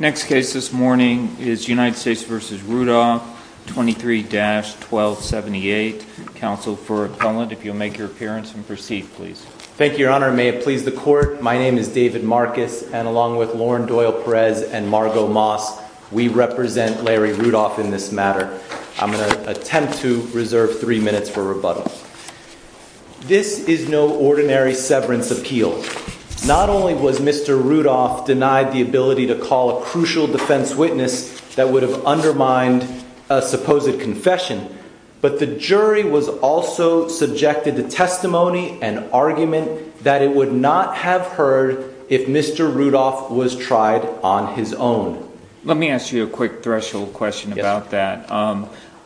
Next case this morning is United States v. Rudolph, 23-1278. Counsel for appellant, if you'll make your appearance and proceed, please. Thank you, Your Honor. May it please the Court, my name is David Marcus, and along with Lauren Doyle Perez and Margot Moss, we represent Larry Rudolph in this matter. I'm going to attempt to reserve three minutes for rebuttal. This is no ordinary severance appeal. Not only was Mr. Rudolph denied the ability to call a crucial defense witness that would have undermined a supposed confession, but the jury was also subjected to testimony and argument that it would not have heard if Mr. Rudolph was tried on his own. Let me ask you a quick threshold question about that.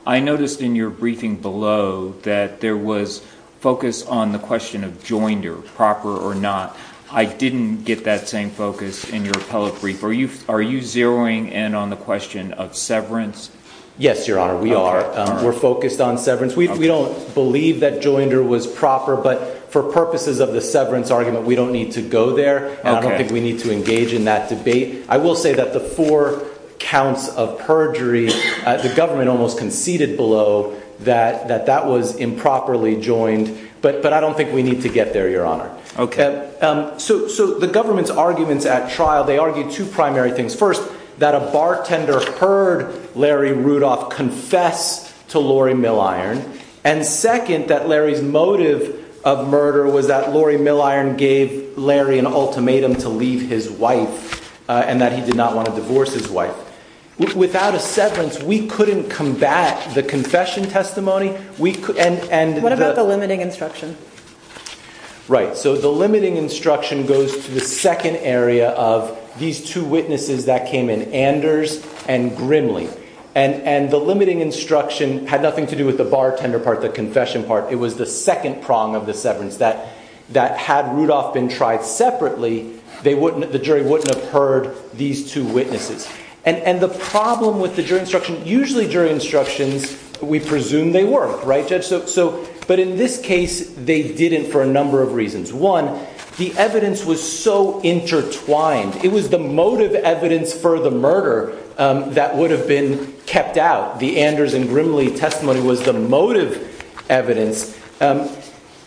I noticed in your briefing below that there was focus on the question of joinder, proper or not. I didn't get that same focus in your appellate brief. Are you zeroing in on the question of severance? Yes, Your Honor, we are. We're focused on severance. We don't believe that joinder was proper, but for purposes of the severance argument, we don't need to go there, and I don't think we need to engage in that debate. I will say that the four counts of perjury, the government almost conceded below that that was improperly joined, but I don't think we need to get there, Your Honor. Okay. So, the government's arguments at trial, they argued two primary things. First, that a bartender heard Larry Rudolph confess to Lori Milliron, and second, that Larry's motive of murder was that Lori Milliron gave Larry an ultimatum to leave his wife and that he did not want to divorce his wife. Without a severance, we couldn't combat the confession testimony. What about the limiting instruction? Right. So, the limiting instruction goes to the second area of these two witnesses that came in, Anders and Grimley, and the limiting instruction had nothing to do with the bartender part, the confession part. It was the second prong of the severance, that had Rudolph been tried separately, the jury wouldn't have heard these two witnesses, and the problem with the jury instruction, usually jury instructions, we presume they work, right, Judge? So, but in this case, they didn't for a number of reasons. One, the evidence was so intertwined. It was the motive evidence for the murder that would have been kept out. The Anders and Grimley testimony was the motive evidence.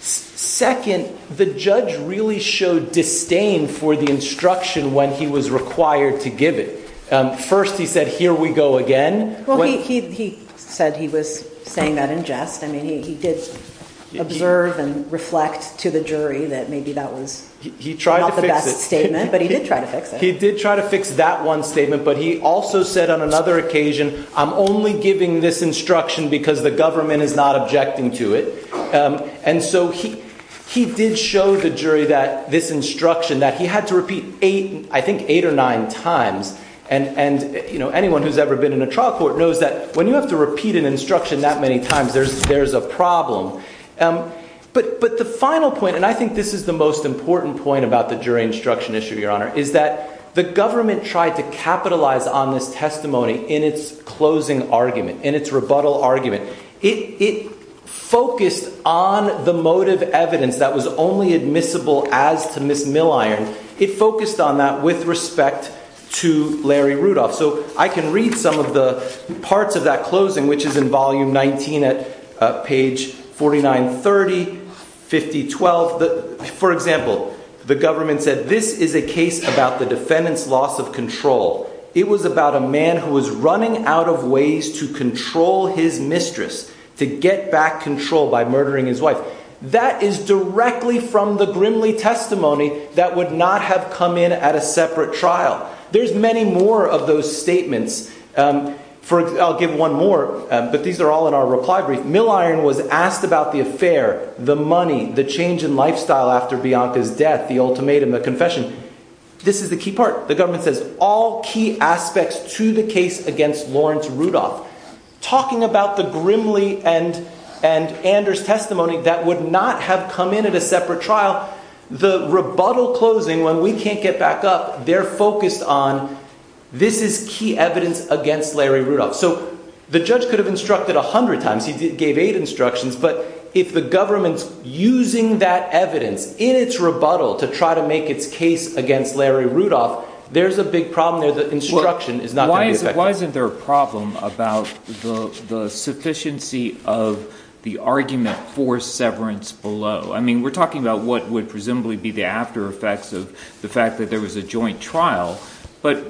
Second, the judge really showed disdain for the instruction when he was required to give it. First, he said, here we go again. Well, he said he was saying that in jest, I mean, he did observe and reflect to the jury that maybe that was not the best statement, but he did try to fix it. He did try to fix that one statement, but he also said on another occasion, I'm only giving this instruction because the government is not objecting to it. And so, he did show the jury that this instruction, that he had to repeat eight, I think eight or nine times, and, you know, anyone who's ever been in a trial court knows that when you have to repeat an instruction that many times, there's a problem. But the final point, and I think this is the most important point about the jury instruction issue, Your Honor, is that the government tried to capitalize on this testimony in its closing argument, in its rebuttal argument. It focused on the motive evidence that was only admissible as to Ms. Milliron. It focused on that with respect to Larry Rudolph. So, I can read some of the parts of that closing, which is in volume 19 at page 4930, 5012. For example, the government said, this is a case about the defendant's loss of control. It was about a man who was running out of ways to control his mistress, to get back control by murdering his wife. That is directly from the Grimley testimony that would not have come in at a separate trial. There's many more of those statements. For example, I'll give one more, but these are all in our reply brief. Milliron was asked about the affair, the money, the change in lifestyle after Bianca's death, the ultimatum, the confession. This is the key part. The government says, all key aspects to the case against Lawrence Rudolph. Talking about the Grimley and Anders testimony that would not have come in at a separate trial, the rebuttal closing, when we can't get back up, they're focused on, this is key evidence against Larry Rudolph. So, the judge could have instructed a hundred times. He gave eight instructions, but if the government's using that evidence in its rebuttal to try to make its case against Larry Rudolph, there's a big problem there. The instruction is not going to be effective. Why isn't there a problem about the sufficiency of the argument for severance below? I mean, we're talking about what would presumably be the after effects of the fact that there was a joint trial, but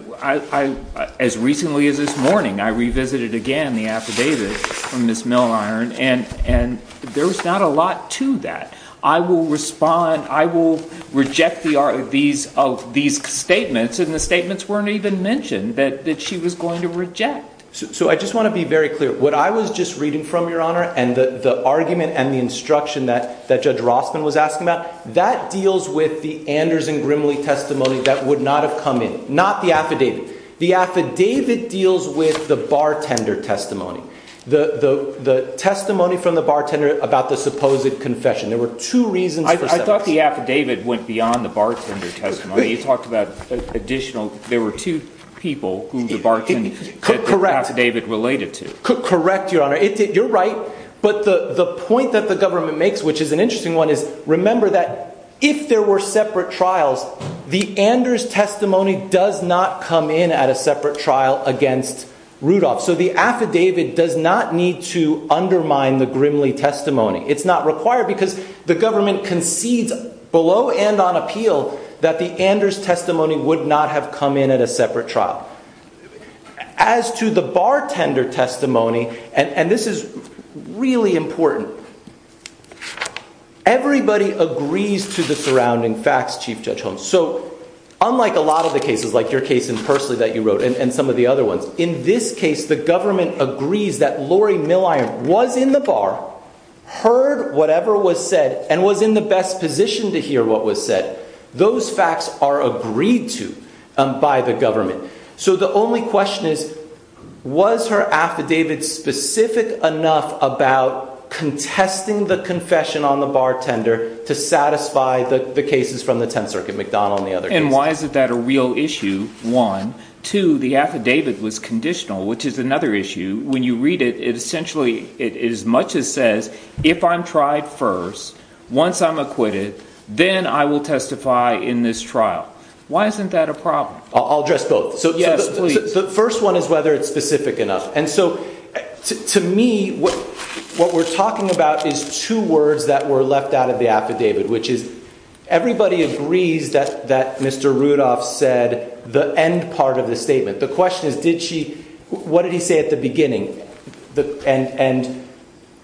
as recently as this morning, I revisited again the affidavit from Ms. Milliron, and there was not a lot to that. I will respond, I will reject these statements, and the statements weren't even mentioned that she was going to reject. So I just want to be very clear. What I was just reading from, Your Honor, and the argument and the instruction that Judge Rossman was asking about, that deals with the Anders and Grimley testimony that would not have come in. Not the affidavit. The affidavit deals with the bartender testimony. The testimony from the bartender about the supposed confession, there were two reasons for severance. I thought the affidavit went beyond the bartender testimony. You talked about additional, there were two people who the bartender, the affidavit related to. Correct, Your Honor. You're right, but the point that the government makes, which is an interesting one, is remember that if there were separate trials, the Anders testimony does not come in at a separate trial against Rudolph. So the affidavit does not need to undermine the Grimley testimony. It's not required because the government concedes below and on appeal that the Anders testimony would not have come in at a separate trial. As to the bartender testimony, and this is really important, everybody agrees to the surrounding facts, Chief Judge Holmes. So unlike a lot of the cases, like your case in Pursley that you wrote and some of the other ones, in this case the government agrees that Lori Milliron was in the bar, heard whatever was said, and was in the best position to hear what was said. Those facts are agreed to by the government. So the only question is, was her affidavit specific enough about contesting the confession on the bartender to satisfy the cases from the Tenth Circuit, McDonald and the other cases? And why is that a real issue? One. Two. The affidavit was conditional, which is another issue. When you read it, it essentially, it as much as says, if I'm tried first, once I'm acquitted, then I will testify in this trial. Why isn't that a problem? I'll address both. So yes, please. The first one is whether it's specific enough. And so to me, what we're talking about is two words that were left out of the affidavit, which is everybody agrees that Mr. Rudolph said the end part of the statement. The question is, what did he say at the beginning? And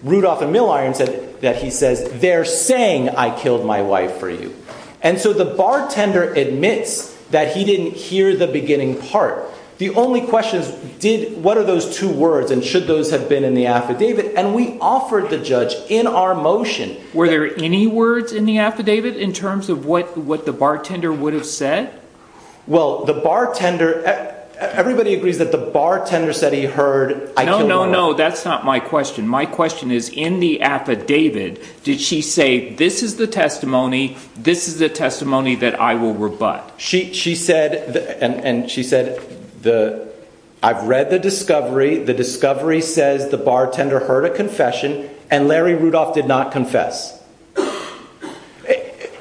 Rudolph and Milliron said that he says, they're saying I killed my wife for you. And so the bartender admits that he didn't hear the beginning part. The only question is, what are those two words and should those have been in the affidavit? And we offered the judge in our motion. Were there any words in the affidavit in terms of what the bartender would have said? Well, the bartender, everybody agrees that the bartender said he heard. No, no, no. That's not my question. My question is, in the affidavit, did she say, this is the testimony, this is the testimony that I will rebut. She said, and she said, I've read the discovery. The discovery says the bartender heard a confession and Larry Rudolph did not confess.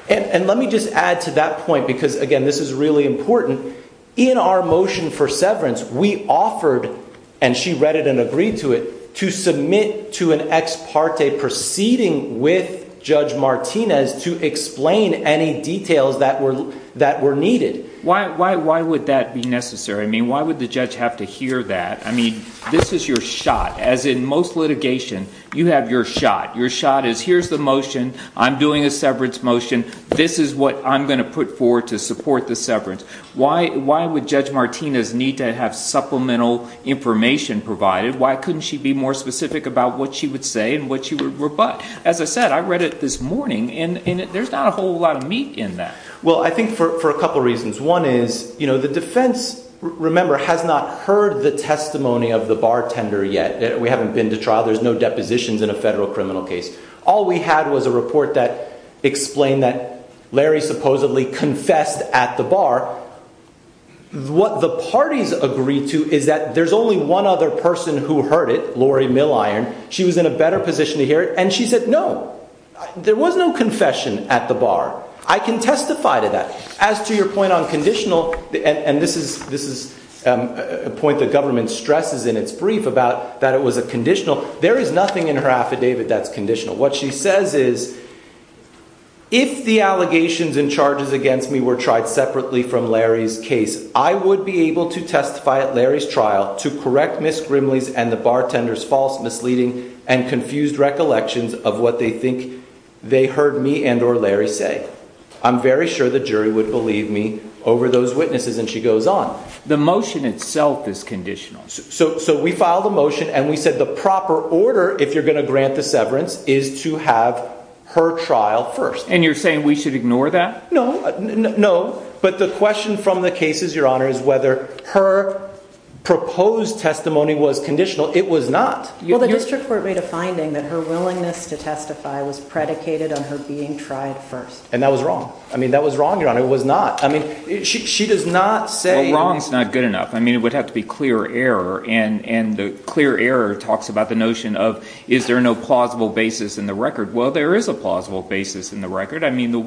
And let me just add to that point because, again, this is really important. In our motion for severance, we offered, and she read it and agreed to it, to submit to an ex parte proceeding with Judge Martinez to explain any details that were needed. Why would that be necessary? I mean, why would the judge have to hear that? I mean, this is your shot. As in most litigation, you have your shot. Your shot is, here's the motion, I'm doing a severance motion, this is what I'm going to put forward to support the severance. Why would Judge Martinez need to have supplemental information provided? Why couldn't she be more specific about what she would say and what she would rebut? As I said, I read it this morning and there's not a whole lot of meat in that. Well, I think for a couple reasons. One is, you know, the defense, remember, has not heard the testimony of the bartender yet. We haven't been to trial. There's no depositions in a federal criminal case. All we had was a report that explained that Larry supposedly confessed at the bar. What the parties agreed to is that there's only one other person who heard it, Lori Milliron. She was in a better position to hear it and she said, no, there was no confession at the bar. I can testify to that. As to your point on conditional, and this is a point the government stresses in its brief about that it was a conditional, there is nothing in her affidavit that's conditional. What she says is, if the allegations and charges against me were tried separately from Larry's case, I would be able to testify at Larry's trial to correct Ms. Grimley's and the bartender's false misleading and confused recollections of what they think they heard me and or Larry say. I'm very sure the jury would believe me over those witnesses. And she goes on. The motion itself is conditional. So we filed a motion and we said the proper order, if you're going to grant the severance is to have her trial first. And you're saying we should ignore that? No, no. But the question from the cases, your honor, is whether her proposed testimony was conditional. It was not. Well, the district court made a finding that her willingness to testify was predicated on her being tried first. And that was wrong. I mean, that was wrong, your honor. It was not. I mean, she does not say. Well, wrong's not good enough. I mean, it would have to be clear error. And the clear error talks about the notion of, is there no plausible basis in the record? Well, there is a plausible basis in the record. I mean, the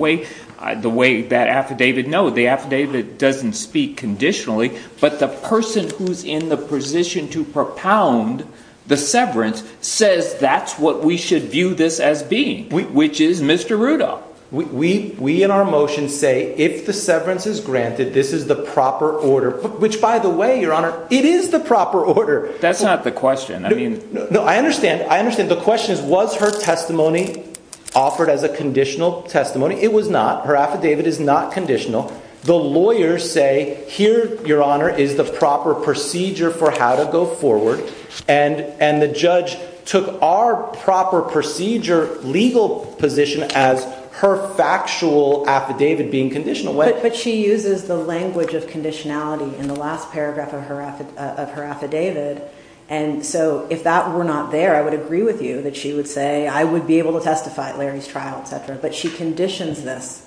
way that affidavit, no, the affidavit doesn't speak conditionally. But the person who's in the position to propound the severance says that's what we should view this as being, which is Mr. Rudolph. We, we in our motion say if the severance is granted, this is the proper order, which by the way, your honor, it is the proper order. That's not the question. I mean, no, I understand. I understand. The question is, was her testimony offered as a conditional testimony? It was not. Her affidavit is not conditional. The lawyers say here, your honor, is the proper procedure for how to go forward. And, and the judge took our proper procedure legal position as her factual affidavit being conditional way. But she uses the language of conditionality in the last paragraph of her, of her affidavit. And so if that were not there, I would agree with you that she would say, I would be able to testify at Larry's trial, et cetera, but she conditions this.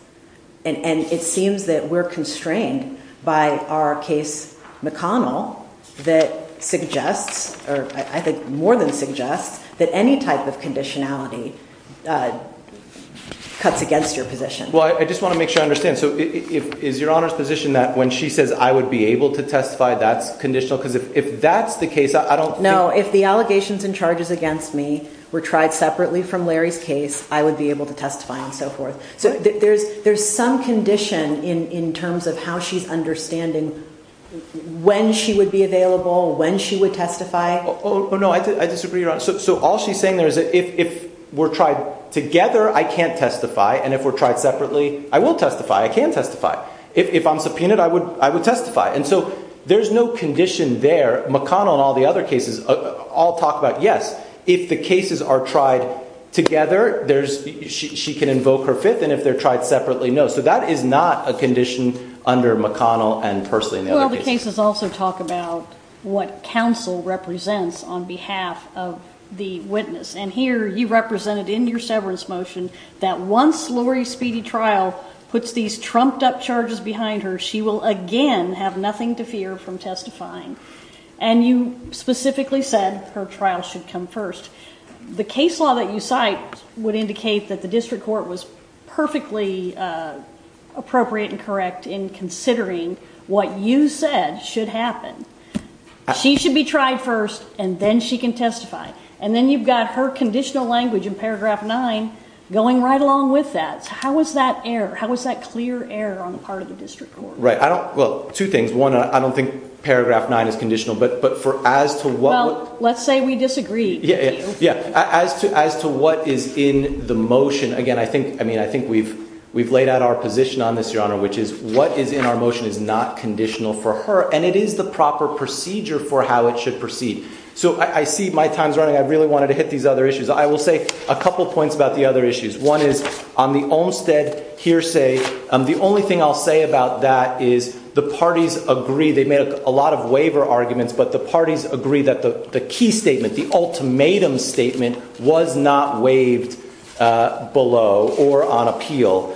And it seems that we're constrained by our case McConnell that suggests, or I think more than suggests that any type of conditionality, uh, cuts against your position. Well, I just want to make sure I understand. So if, is your honor's position that when she says I would be able to testify, that's conditional. Cause if, if that's the case, I don't know if the allegations and charges against me were tried separately from Larry's case, I would be able to testify on so forth. So there's, there's some condition in, in terms of how she's understanding when she would be available, when she would testify. Oh, no, I disagree. So all she's saying there is if, if we're tried together, I can't testify. And if we're tried separately, I will testify. I can testify if, if I'm subpoenaed, I would, I would testify. And so there's no condition there, McConnell and all the other cases all talk about, yes, if the cases are tried together, there's, she can invoke her fifth and if they're tried separately, no. So that is not a condition under McConnell and personally in the other cases also talk about what counsel represents on behalf of the witness. And here you represented in your severance motion that once Lori speedy trial puts these trumped up charges behind her, she will again have nothing to fear from testifying. And you specifically said her trial should come first. The case law that you cite would indicate that the district court was perfectly appropriate and correct in considering what you said should happen. She should be tried first and then she can testify. And then you've got her conditional language in paragraph nine going right along with that. How was that error? How was that clear error on the part of the district court? Right. I don't, well, two things. One, I don't think paragraph nine is conditional, but, but for as to what, let's say we disagree. Yeah. Yeah. As to, as to what is in the motion again, I think, I mean, I think we've, we've laid out our position on this, your honor, which is what is in our motion is not conditional for her and it is the proper procedure for how it should proceed. So I see my time's running. I really wanted to hit these other issues. I will say a couple of points about the other issues. One is on the Olmstead hearsay. The only thing I'll say about that is the parties agree. They made a lot of waiver arguments, but the parties agree that the, the key statement, the ultimatum statement was not waived below or on appeal.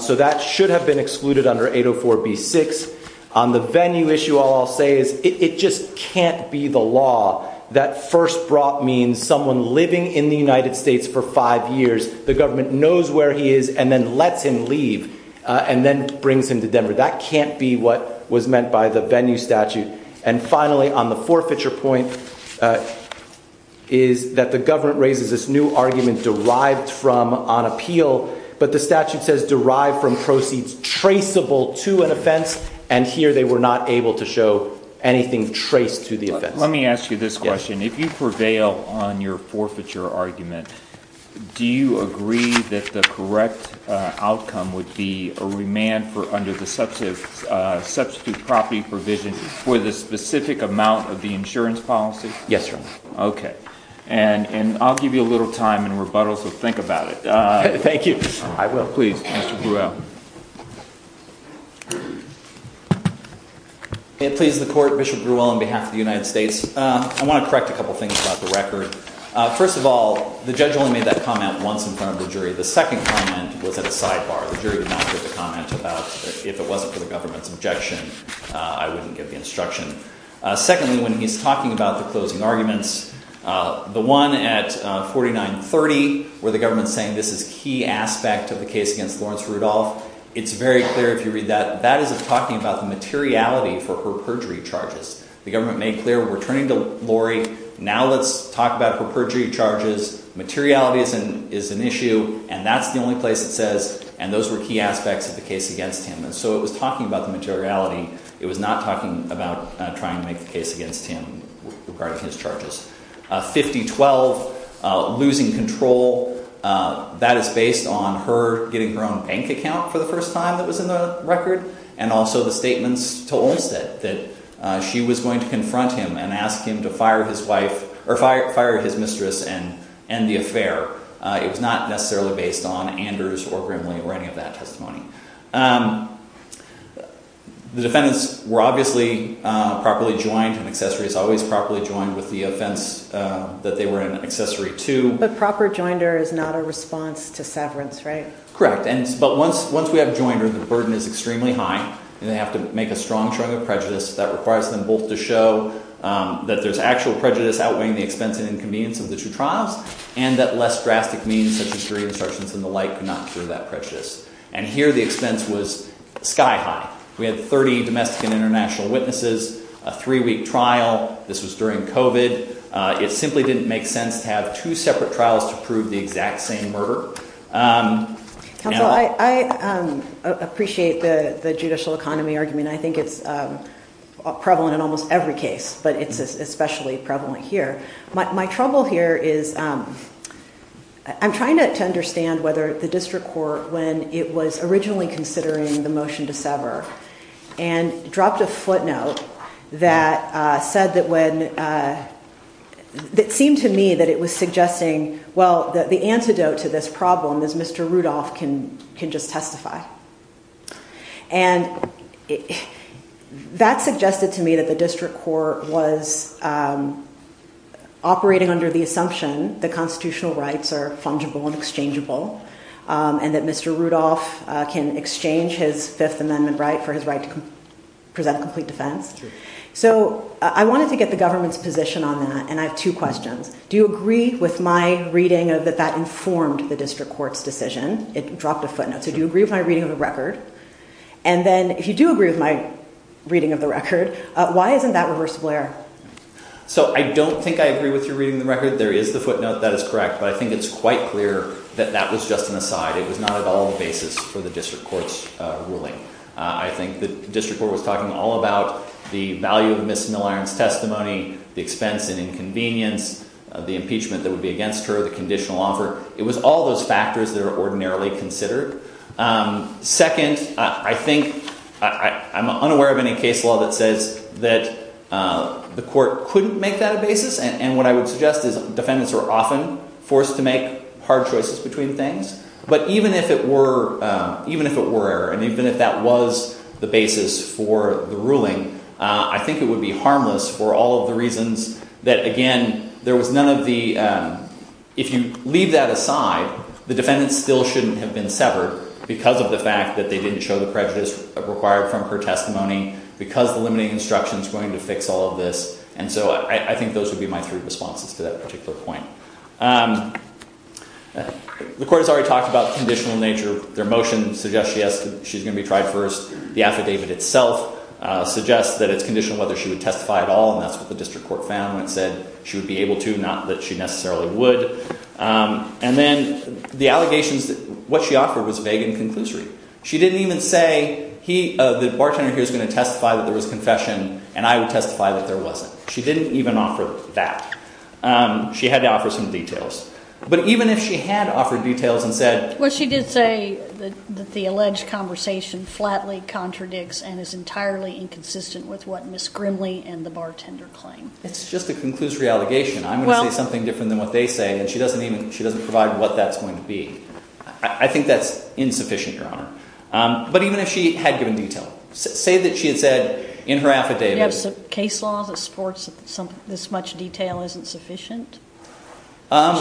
So that should have been excluded under 804 B six on the venue issue. All I'll say is it just can't be the law that first brought means someone living in the United States for five years. The government knows where he is and then lets him leave and then brings him to Denver. That can't be what was meant by the venue statute. And finally on the forfeiture point is that the government raises this new argument derived from on appeal, but the statute says derived from proceeds traceable to an offense. And here they were not able to show anything traced to the event. Let me ask you this question. If you prevail on your forfeiture argument, do you agree that the correct outcome would be a remand for under the substantive substitute property provision for the specific amount of the insurance policy? Yes, sir. Okay. And, and I'll give you a little time and rebuttal. So think about it. Uh, thank you. I will. Mr Bruel. Please. The court. Bishop Bruel on behalf of the United States. I want to correct a couple of things about the record. First of all, the judge only made that comment once in front of the jury. The second comment was at a sidebar. The jury did not give a comment about if it wasn't for the government's objection, I wouldn't give the instruction. Secondly, when he's talking about the closing arguments, uh, the one at 4930 where the government saying this is key aspect of the case against Lawrence Rudolph. It's very clear if you read that, that isn't talking about the materiality for her perjury charges. The government made clear we're turning to Lori. Now let's talk about her perjury charges. Materiality is an, is an issue and that's the only place it says, and those were key aspects of the case against him. And so it was talking about the materiality. It was not talking about trying to make the case against him regarding his charges. Uh, 5012, uh, losing control, uh, that is based on her getting her own bank account for the first time that was in the record. And also the statements to Olmstead that, uh, she was going to confront him and ask him to fire his wife or fire, fire his mistress and, and the affair, uh, it was not necessarily based on Anders or Grimley or any of that testimony. Um, the defendants were obviously, uh, properly joined and accessory is always properly joined with the offense, uh, that they were an accessory to. But proper joinder is not a response to severance, right? Correct. And, and, but once, once we have joined her, the burden is extremely high and they have to make a strong showing of prejudice that requires them both to show, um, that there's actual prejudice outweighing the expense and inconvenience of the two trials and that less drastic means such as three insertions in the light could not cure that precious. And here the expense was sky high. We had 30 domestic and international witnesses, a three week trial. This was during COVID. Uh, it simply didn't make sense to have two separate trials to prove the exact same murder. Um, I, I, um, appreciate the, the judicial economy argument. I think it's, um, prevalent in almost every case, but it's especially prevalent here. My trouble here is, um, I'm trying to understand whether the district court, when it was originally considering the motion to sever and dropped a footnote that, uh, said that when, uh, that it seemed to me that it was suggesting, well, that the antidote to this problem is Mr. Rudolph can, can just testify. And that suggested to me that the district court was, um, operating under the assumption that constitutional rights are fungible and exchangeable, um, and that Mr. Rudolph, uh, can exchange his fifth amendment right for his right to present complete defense. So I wanted to get the government's position on that. And I have two questions. Do you agree with my reading of that, that informed the district court's decision? It dropped a footnote. So do you agree with my reading of the record? And then if you do agree with my reading of the record, why isn't that reversible error? So I don't think I agree with your reading the record. There is the footnote that is correct, but I think it's quite clear that that was just an aside. It was not at all the basis for the district court's ruling. I think the district court was talking all about the value of Ms. Milliron's testimony, the expense and inconvenience of the impeachment that would be against her, the conditional offer. It was all those factors that are ordinarily considered. Um, second, I think I, I'm unaware of any case law that says that, uh, the court couldn't make that a basis. And what I would suggest is defendants are often forced to make hard choices between things. But even if it were, um, even if it were error, and even if that was the basis for the ruling, uh, I think it would be harmless for all of the reasons that, again, there was none of the, um, if you leave that aside, the defendants still shouldn't have been severed because of the fact that they didn't show the prejudice required from her testimony because the limiting instruction is going to fix all of this. And so I, I think those would be my three responses to that particular point. Um, the court has already talked about the conditional nature of their motion, suggest she has to, she's going to be tried first. The affidavit itself, uh, suggests that it's conditional whether she would testify at all. And that's what the district court found when it said she would be able to, not that she necessarily would. Um, and then the allegations that what she offered was vague and conclusory. She didn't even say he, uh, the bartender here is going to testify that there was confession and I would testify that there wasn't. She didn't even offer that. Um, she had to offer some details, but even if she had offered details and said, well, she did say that the alleged conversation flatly contradicts and is entirely inconsistent with what Ms. Grimley and the bartender claim. It's just a conclusory allegation. I'm going to say something different than what they say. And she doesn't even, she doesn't provide what that's going to be. I think that's insufficient, Your Honor. Um, but even if she had given detail, say that she had said in her affidavit case laws of sports, some, this much detail isn't sufficient.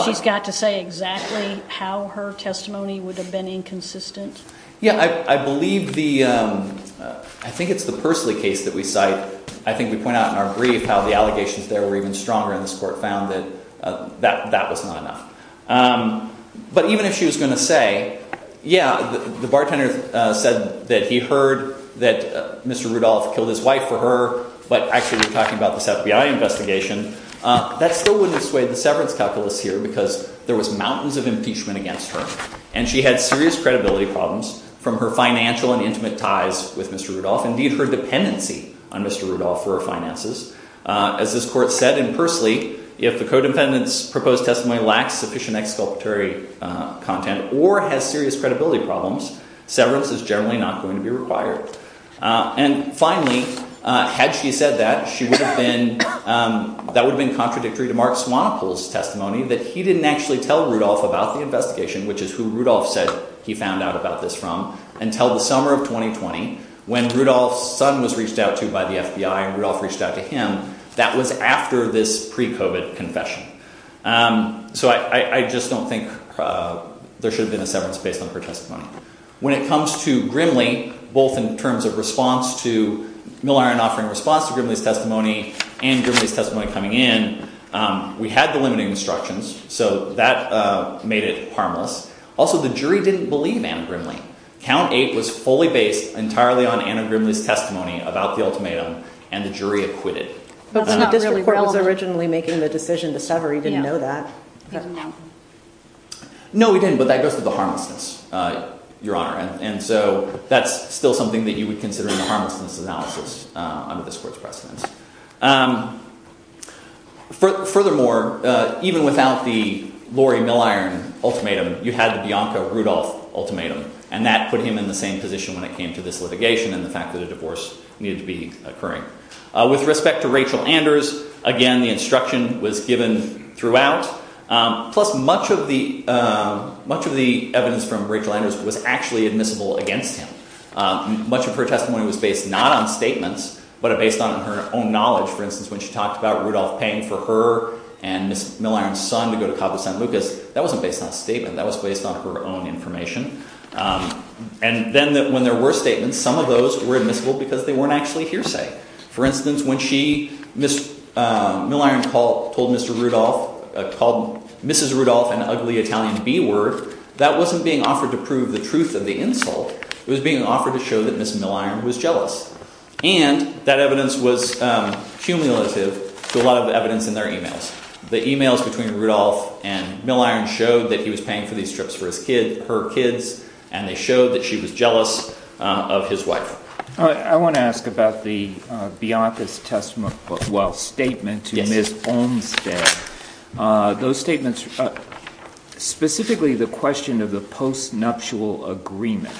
She's got to say exactly how her testimony would have been inconsistent. Yeah, I, I believe the, um, uh, I think it's the personally case that we cite. I think we point out in our brief how the allegations there were even stronger in this court found that, uh, that, that was not enough. Um, but even if she was going to say, yeah, the bartender said that he heard that Mr. Rudolph killed his wife for her, but actually we're talking about this FBI investigation. Uh, that still wouldn't have swayed the severance calculus here because there was mountains of impeachment against her and she had serious credibility problems from her financial and intimate ties with Mr. Rudolph, indeed her dependency on Mr. Rudolph for her finances. Uh, as this court said in Persley, if the codependent's proposed testimony lacks sufficient exculpatory, uh, content or has serious credibility problems, severance is generally not going to be required. Uh, and finally, uh, had she said that she would have been, um, that would've been contradictory to Mark Swanepoel's testimony that he didn't actually tell Rudolph about the investigation, which is who Rudolph said he found out about this from until the summer of 2020 when Rudolph's son was reached out to by the FBI and Rudolph reached out to him. That was after this pre COVID confession. Um, so I, I just don't think, uh, there should have been a severance based on her testimony When it comes to Grimley, both in terms of response to Milliron offering response to Grimley's testimony and Grimley's testimony coming in, um, we had the limiting instructions, so that, uh, made it harmless. Also, the jury didn't believe Anna Grimley. Count eight was fully based entirely on Anna Grimley's testimony about the ultimatum and the jury acquitted. But when the district court was originally making the decision to sever, he didn't know that. No, he didn't. But that goes to the harmlessness, uh, your honor. And so that's still something that you would consider in the harmlessness analysis, uh, under this court's precedence, um, for furthermore, uh, even without the Lori Milliron ultimatum, you had the Bianca Rudolph ultimatum, and that put him in the same position when it came to this litigation and the fact that a divorce needed to be occurring. With respect to Rachel Anders, again, the instruction was given throughout, um, plus much of the, um, much of the evidence from Rachel Anders was actually admissible against him. Um, much of her testimony was based not on statements, but based on her own knowledge. For instance, when she talked about Rudolph paying for her and Ms. Milliron's son to go to Cabo San Lucas, that wasn't based on a statement, that was based on her own information. Um, and then when there were statements, some of those were admissible because they weren't actually hearsay. For instance, when she, Ms., um, Milliron called, told Mr. Rudolph, uh, called Mrs. Rudolph an ugly Italian B-word, that wasn't being offered to prove the truth of the insult, it was being offered to show that Ms. Milliron was jealous. And that evidence was, um, cumulative to a lot of evidence in their emails. The emails between Rudolph and Milliron showed that he was paying for these trips for his kid, her kids, and they showed that she was jealous, um, of his wife. Uh, I want to ask about the, uh, Bianca's testament, well, statement to Ms. Olmstead. Uh, those statements, uh, specifically the question of the post-nuptial agreement.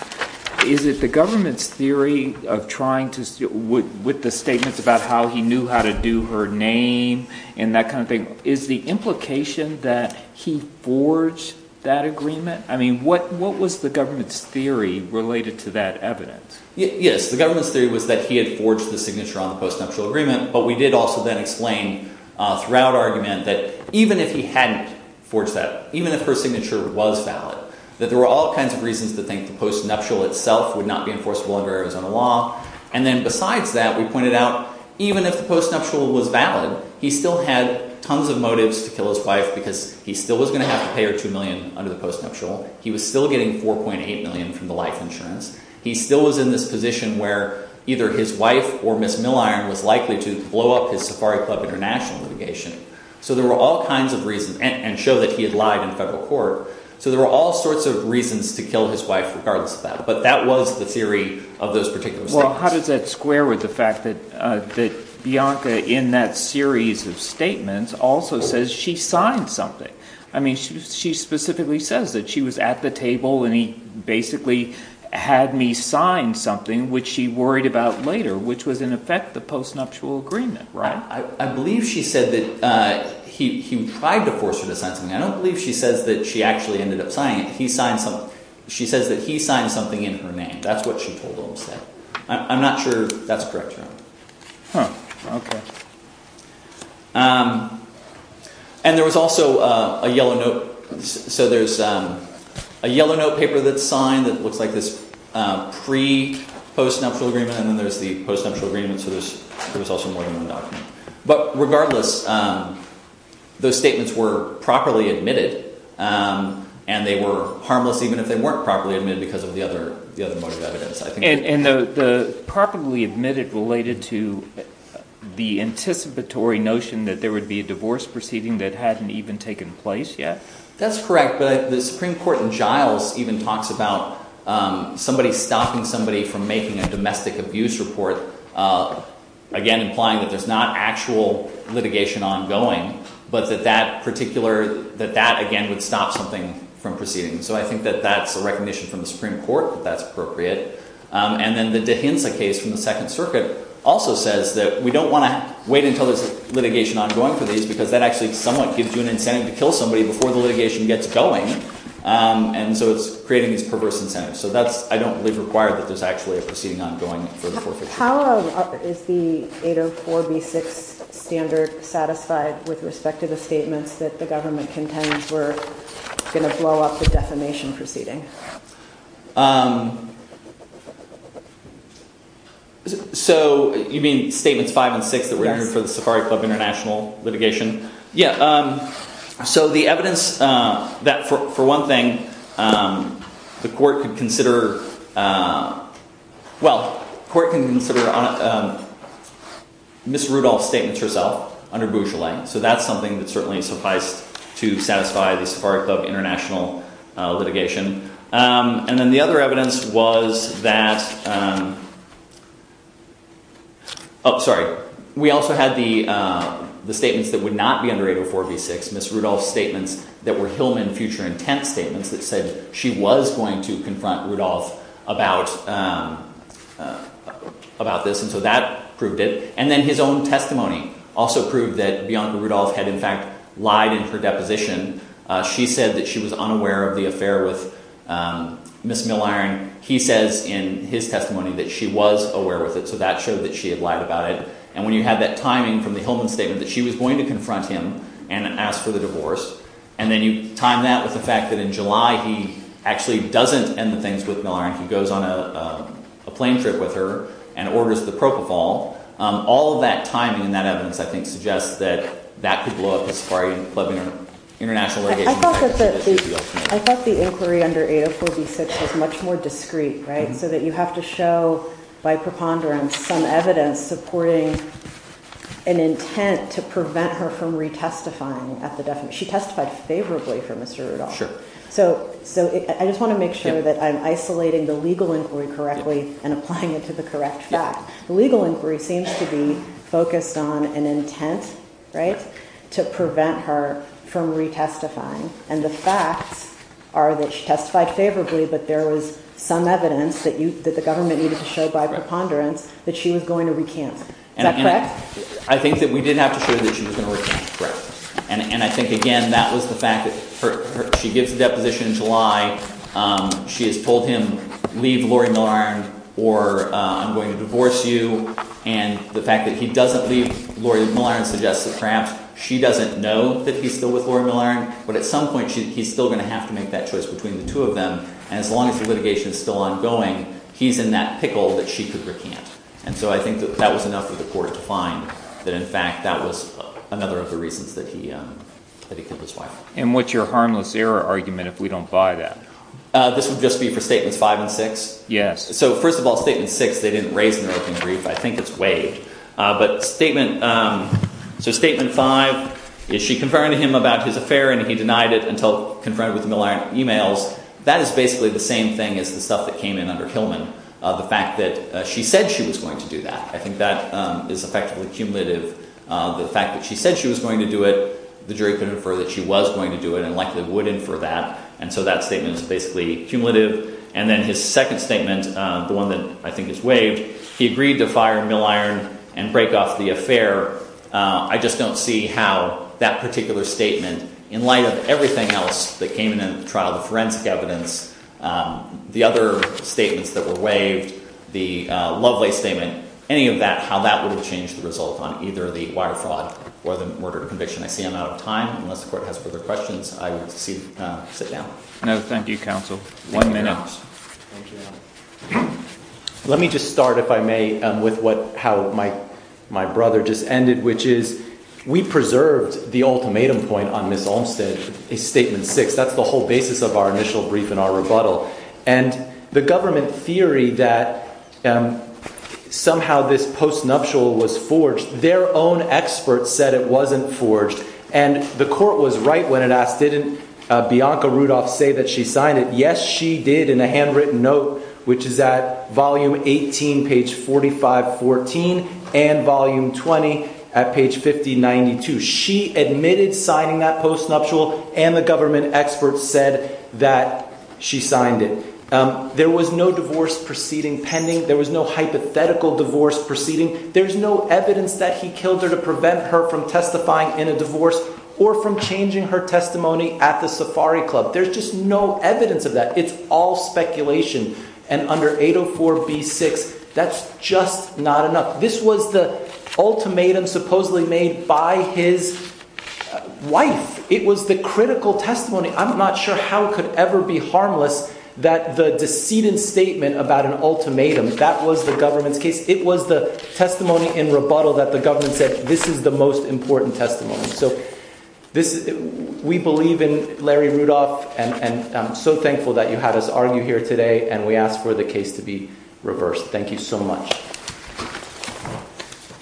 Is it the government's theory of trying to, with the statements about how he knew how to do her name and that kind of thing, is the implication that he forged that agreement? I mean, what, what was the government's theory related to that evidence? Yes, the government's theory was that he had forged the signature on the post-nuptial agreement, but we did also then explain, uh, throughout argument that even if he hadn't forged that, even if her signature was valid, that there were all kinds of reasons to think the post-nuptial itself would not be enforceable under Arizona law. And then besides that, we pointed out, even if the post-nuptial was valid, he still had tons of motives to kill his wife because he still was going to have to pay her two million under the post-nuptial. He was still getting 4.8 million from the life insurance. He still was in this position where either his wife or Ms. Milliron was likely to blow up his Safari Club International litigation. So there were all kinds of reasons, and show that he had lied in federal court. So there were all sorts of reasons to kill his wife regardless of that. But that was the theory of those particular statements. Well, how does that square with the fact that, uh, that Bianca in that series of statements also says she signed something? I mean, she specifically says that she was at the table and he basically had me sign something, which she worried about later, which was in effect the post-nuptial agreement, right? I believe she said that, uh, he tried to force her to sign something. I don't believe she says that she actually ended up signing it. He signed something. She says that he signed something in her name. That's what she told Olmstead. I'm not sure that's correct or not. Huh. Okay. Um, and there was also, uh, a yellow note. So there's, um, a yellow note paper that's signed that looks like this, uh, pre post-nuptial agreement. And then there's the post-nuptial agreement. So there's, there was also more in the document, but regardless, um, those statements were properly admitted, um, and they were harmless even if they weren't properly admitted because of the other, the other motive evidence, I think. And, and the, the properly admitted related to the anticipatory notion that there would be a divorce proceeding that hadn't even taken place yet. That's correct. But the Supreme Court in Giles even talks about, um, somebody stopping somebody from making a domestic abuse report, uh, again, implying that there's not actual litigation ongoing, but that that particular, that that again would stop something from proceeding. So I think that that's a recognition from the Supreme Court that that's appropriate. Um, and then the Dehinza case from the second circuit also says that we don't want to wait until there's litigation ongoing for these because that actually somewhat gives you an incentive to kill somebody before the litigation gets going. Um, and so it's creating these perverse incentives. So that's, I don't believe required that there's actually a proceeding ongoing for the 453. How is the 804 B6 standard satisfied with respect to the statements that the government contends were going to blow up the defamation proceeding? Um, so you mean statements five and six that we're hearing for the safari club international litigation? Yeah. Um, so the evidence, uh, that for one thing, um, the court could consider, uh, well, court can consider on, um, Ms. Rudolph statements herself under Bouchelet. So that's something that certainly sufficed to satisfy the spark of international litigation. Um, and then the other evidence was that, um, oh, sorry. We also had the, uh, the statements that would not be under 804 B6, Ms. Rudolph's statements that were Hillman future intent statements that said she was going to confront Rudolph about, um, uh, about this. And so that proved it. And then his own testimony also proved that Bianca Rudolph had in fact lied in her deposition. Uh, she said that she was unaware of the affair with, um, Ms. Milliron. He says in his testimony that she was aware of it. So that showed that she had lied about it. And when you have that timing from the Hillman statement that she was going to confront him and ask for the divorce, and then you time that with the fact that in July, he actually doesn't end the things with Milliron, he goes on a, uh, a plane trip with her and orders the propofol. Um, all of that timing and that evidence, I think suggests that that could blow up as far as international litigation. I thought the inquiry under 804 B6 was much more discreet, right? So that you have to show by preponderance, some evidence supporting an intent to prevent her from retestifying at the definition. She testified favorably for Mr. Rudolph. So, so I just want to make sure that I'm isolating the legal inquiry correctly and applying it to the correct fact. The legal inquiry seems to be focused on an intent, right? To prevent her from retestifying. And the facts are that she testified favorably, but there was some evidence that you, that the government needed to show by preponderance that she was going to recant. Is that correct? I think that we did have to show that she was going to recant. And I think again, that was the fact that she gives the deposition in July, um, she has told him, leave Lori Milliron or, uh, I'm going to divorce you. And the fact that he doesn't leave Lori Milliron suggests that perhaps she doesn't know that he's still with Lori Milliron. But at some point, she, he's still going to have to make that choice between the two of them. And as long as the litigation is still ongoing, he's in that pickle that she could recant. And so I think that that was enough for the court to find that in fact, that was another of the reasons that he, um, that he killed his wife. And what's your harmless error argument if we don't buy that? Uh, this would just be for statements five and six. Yes. So first of all, statement six, they didn't raise an open brief. I think it's waived. Uh, but statement, um, so statement five, is she confirmed to him about his affair and he denied it until confronted with Milliron emails. That is basically the same thing as the stuff that came in under Hillman, uh, the fact that she said she was going to do that. I think that, um, is effectively cumulative. Uh, the fact that she said she was going to do it, the jury could infer that she was going to do it and likely would infer that. And so that statement is basically cumulative. And then his second statement, uh, the one that I think is waived, he agreed to fire Milliron and break off the affair. Uh, I just don't see how that particular statement in light of everything else that came in the trial, the forensic evidence, um, the other statements that were waived, the, uh, Lovelace statement, any of that, how that would have changed the result on either the wire fraud or the murder conviction. I see I'm out of time. Unless the court has further questions, I would see, uh, sit down. No, thank you. Counsel. One minute. Thank you. Let me just start, if I may, um, with what, how my, my brother just ended, which is we preserved the ultimatum point on Ms. Olmstead, a statement six, that's the whole basis of our initial brief and our rebuttal and the government theory that, um, somehow this post nuptial was forged. Their own experts said it wasn't forged and the court was right when it asked, didn't a Bianca Rudolph say that she signed it? Yes, she did. In a handwritten note, which is at volume 18, page 45, 14 and volume 20 at page 5092. She admitted signing that post nuptial and the government experts said that she signed it. Um, there was no divorce proceeding pending. There was no hypothetical divorce proceeding. There's no evidence that he killed her to prevent her from testifying in a divorce or from changing her testimony at the safari club. There's just no evidence of that. It's all speculation and under 804 B six, that's just not enough. This was the ultimatum supposedly made by his wife. It was the critical testimony. I'm not sure how it could ever be harmless that the decedent statement about an ultimatum that was the government's case. It was the testimony in rebuttal that the government said, this is the most important testimony. So this is, we believe in Larry Rudolph and I'm so thankful that you had us argue here today and we asked for the case to be reversed. Thank you so much.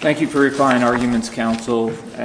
Thank you for refining arguments, counsel.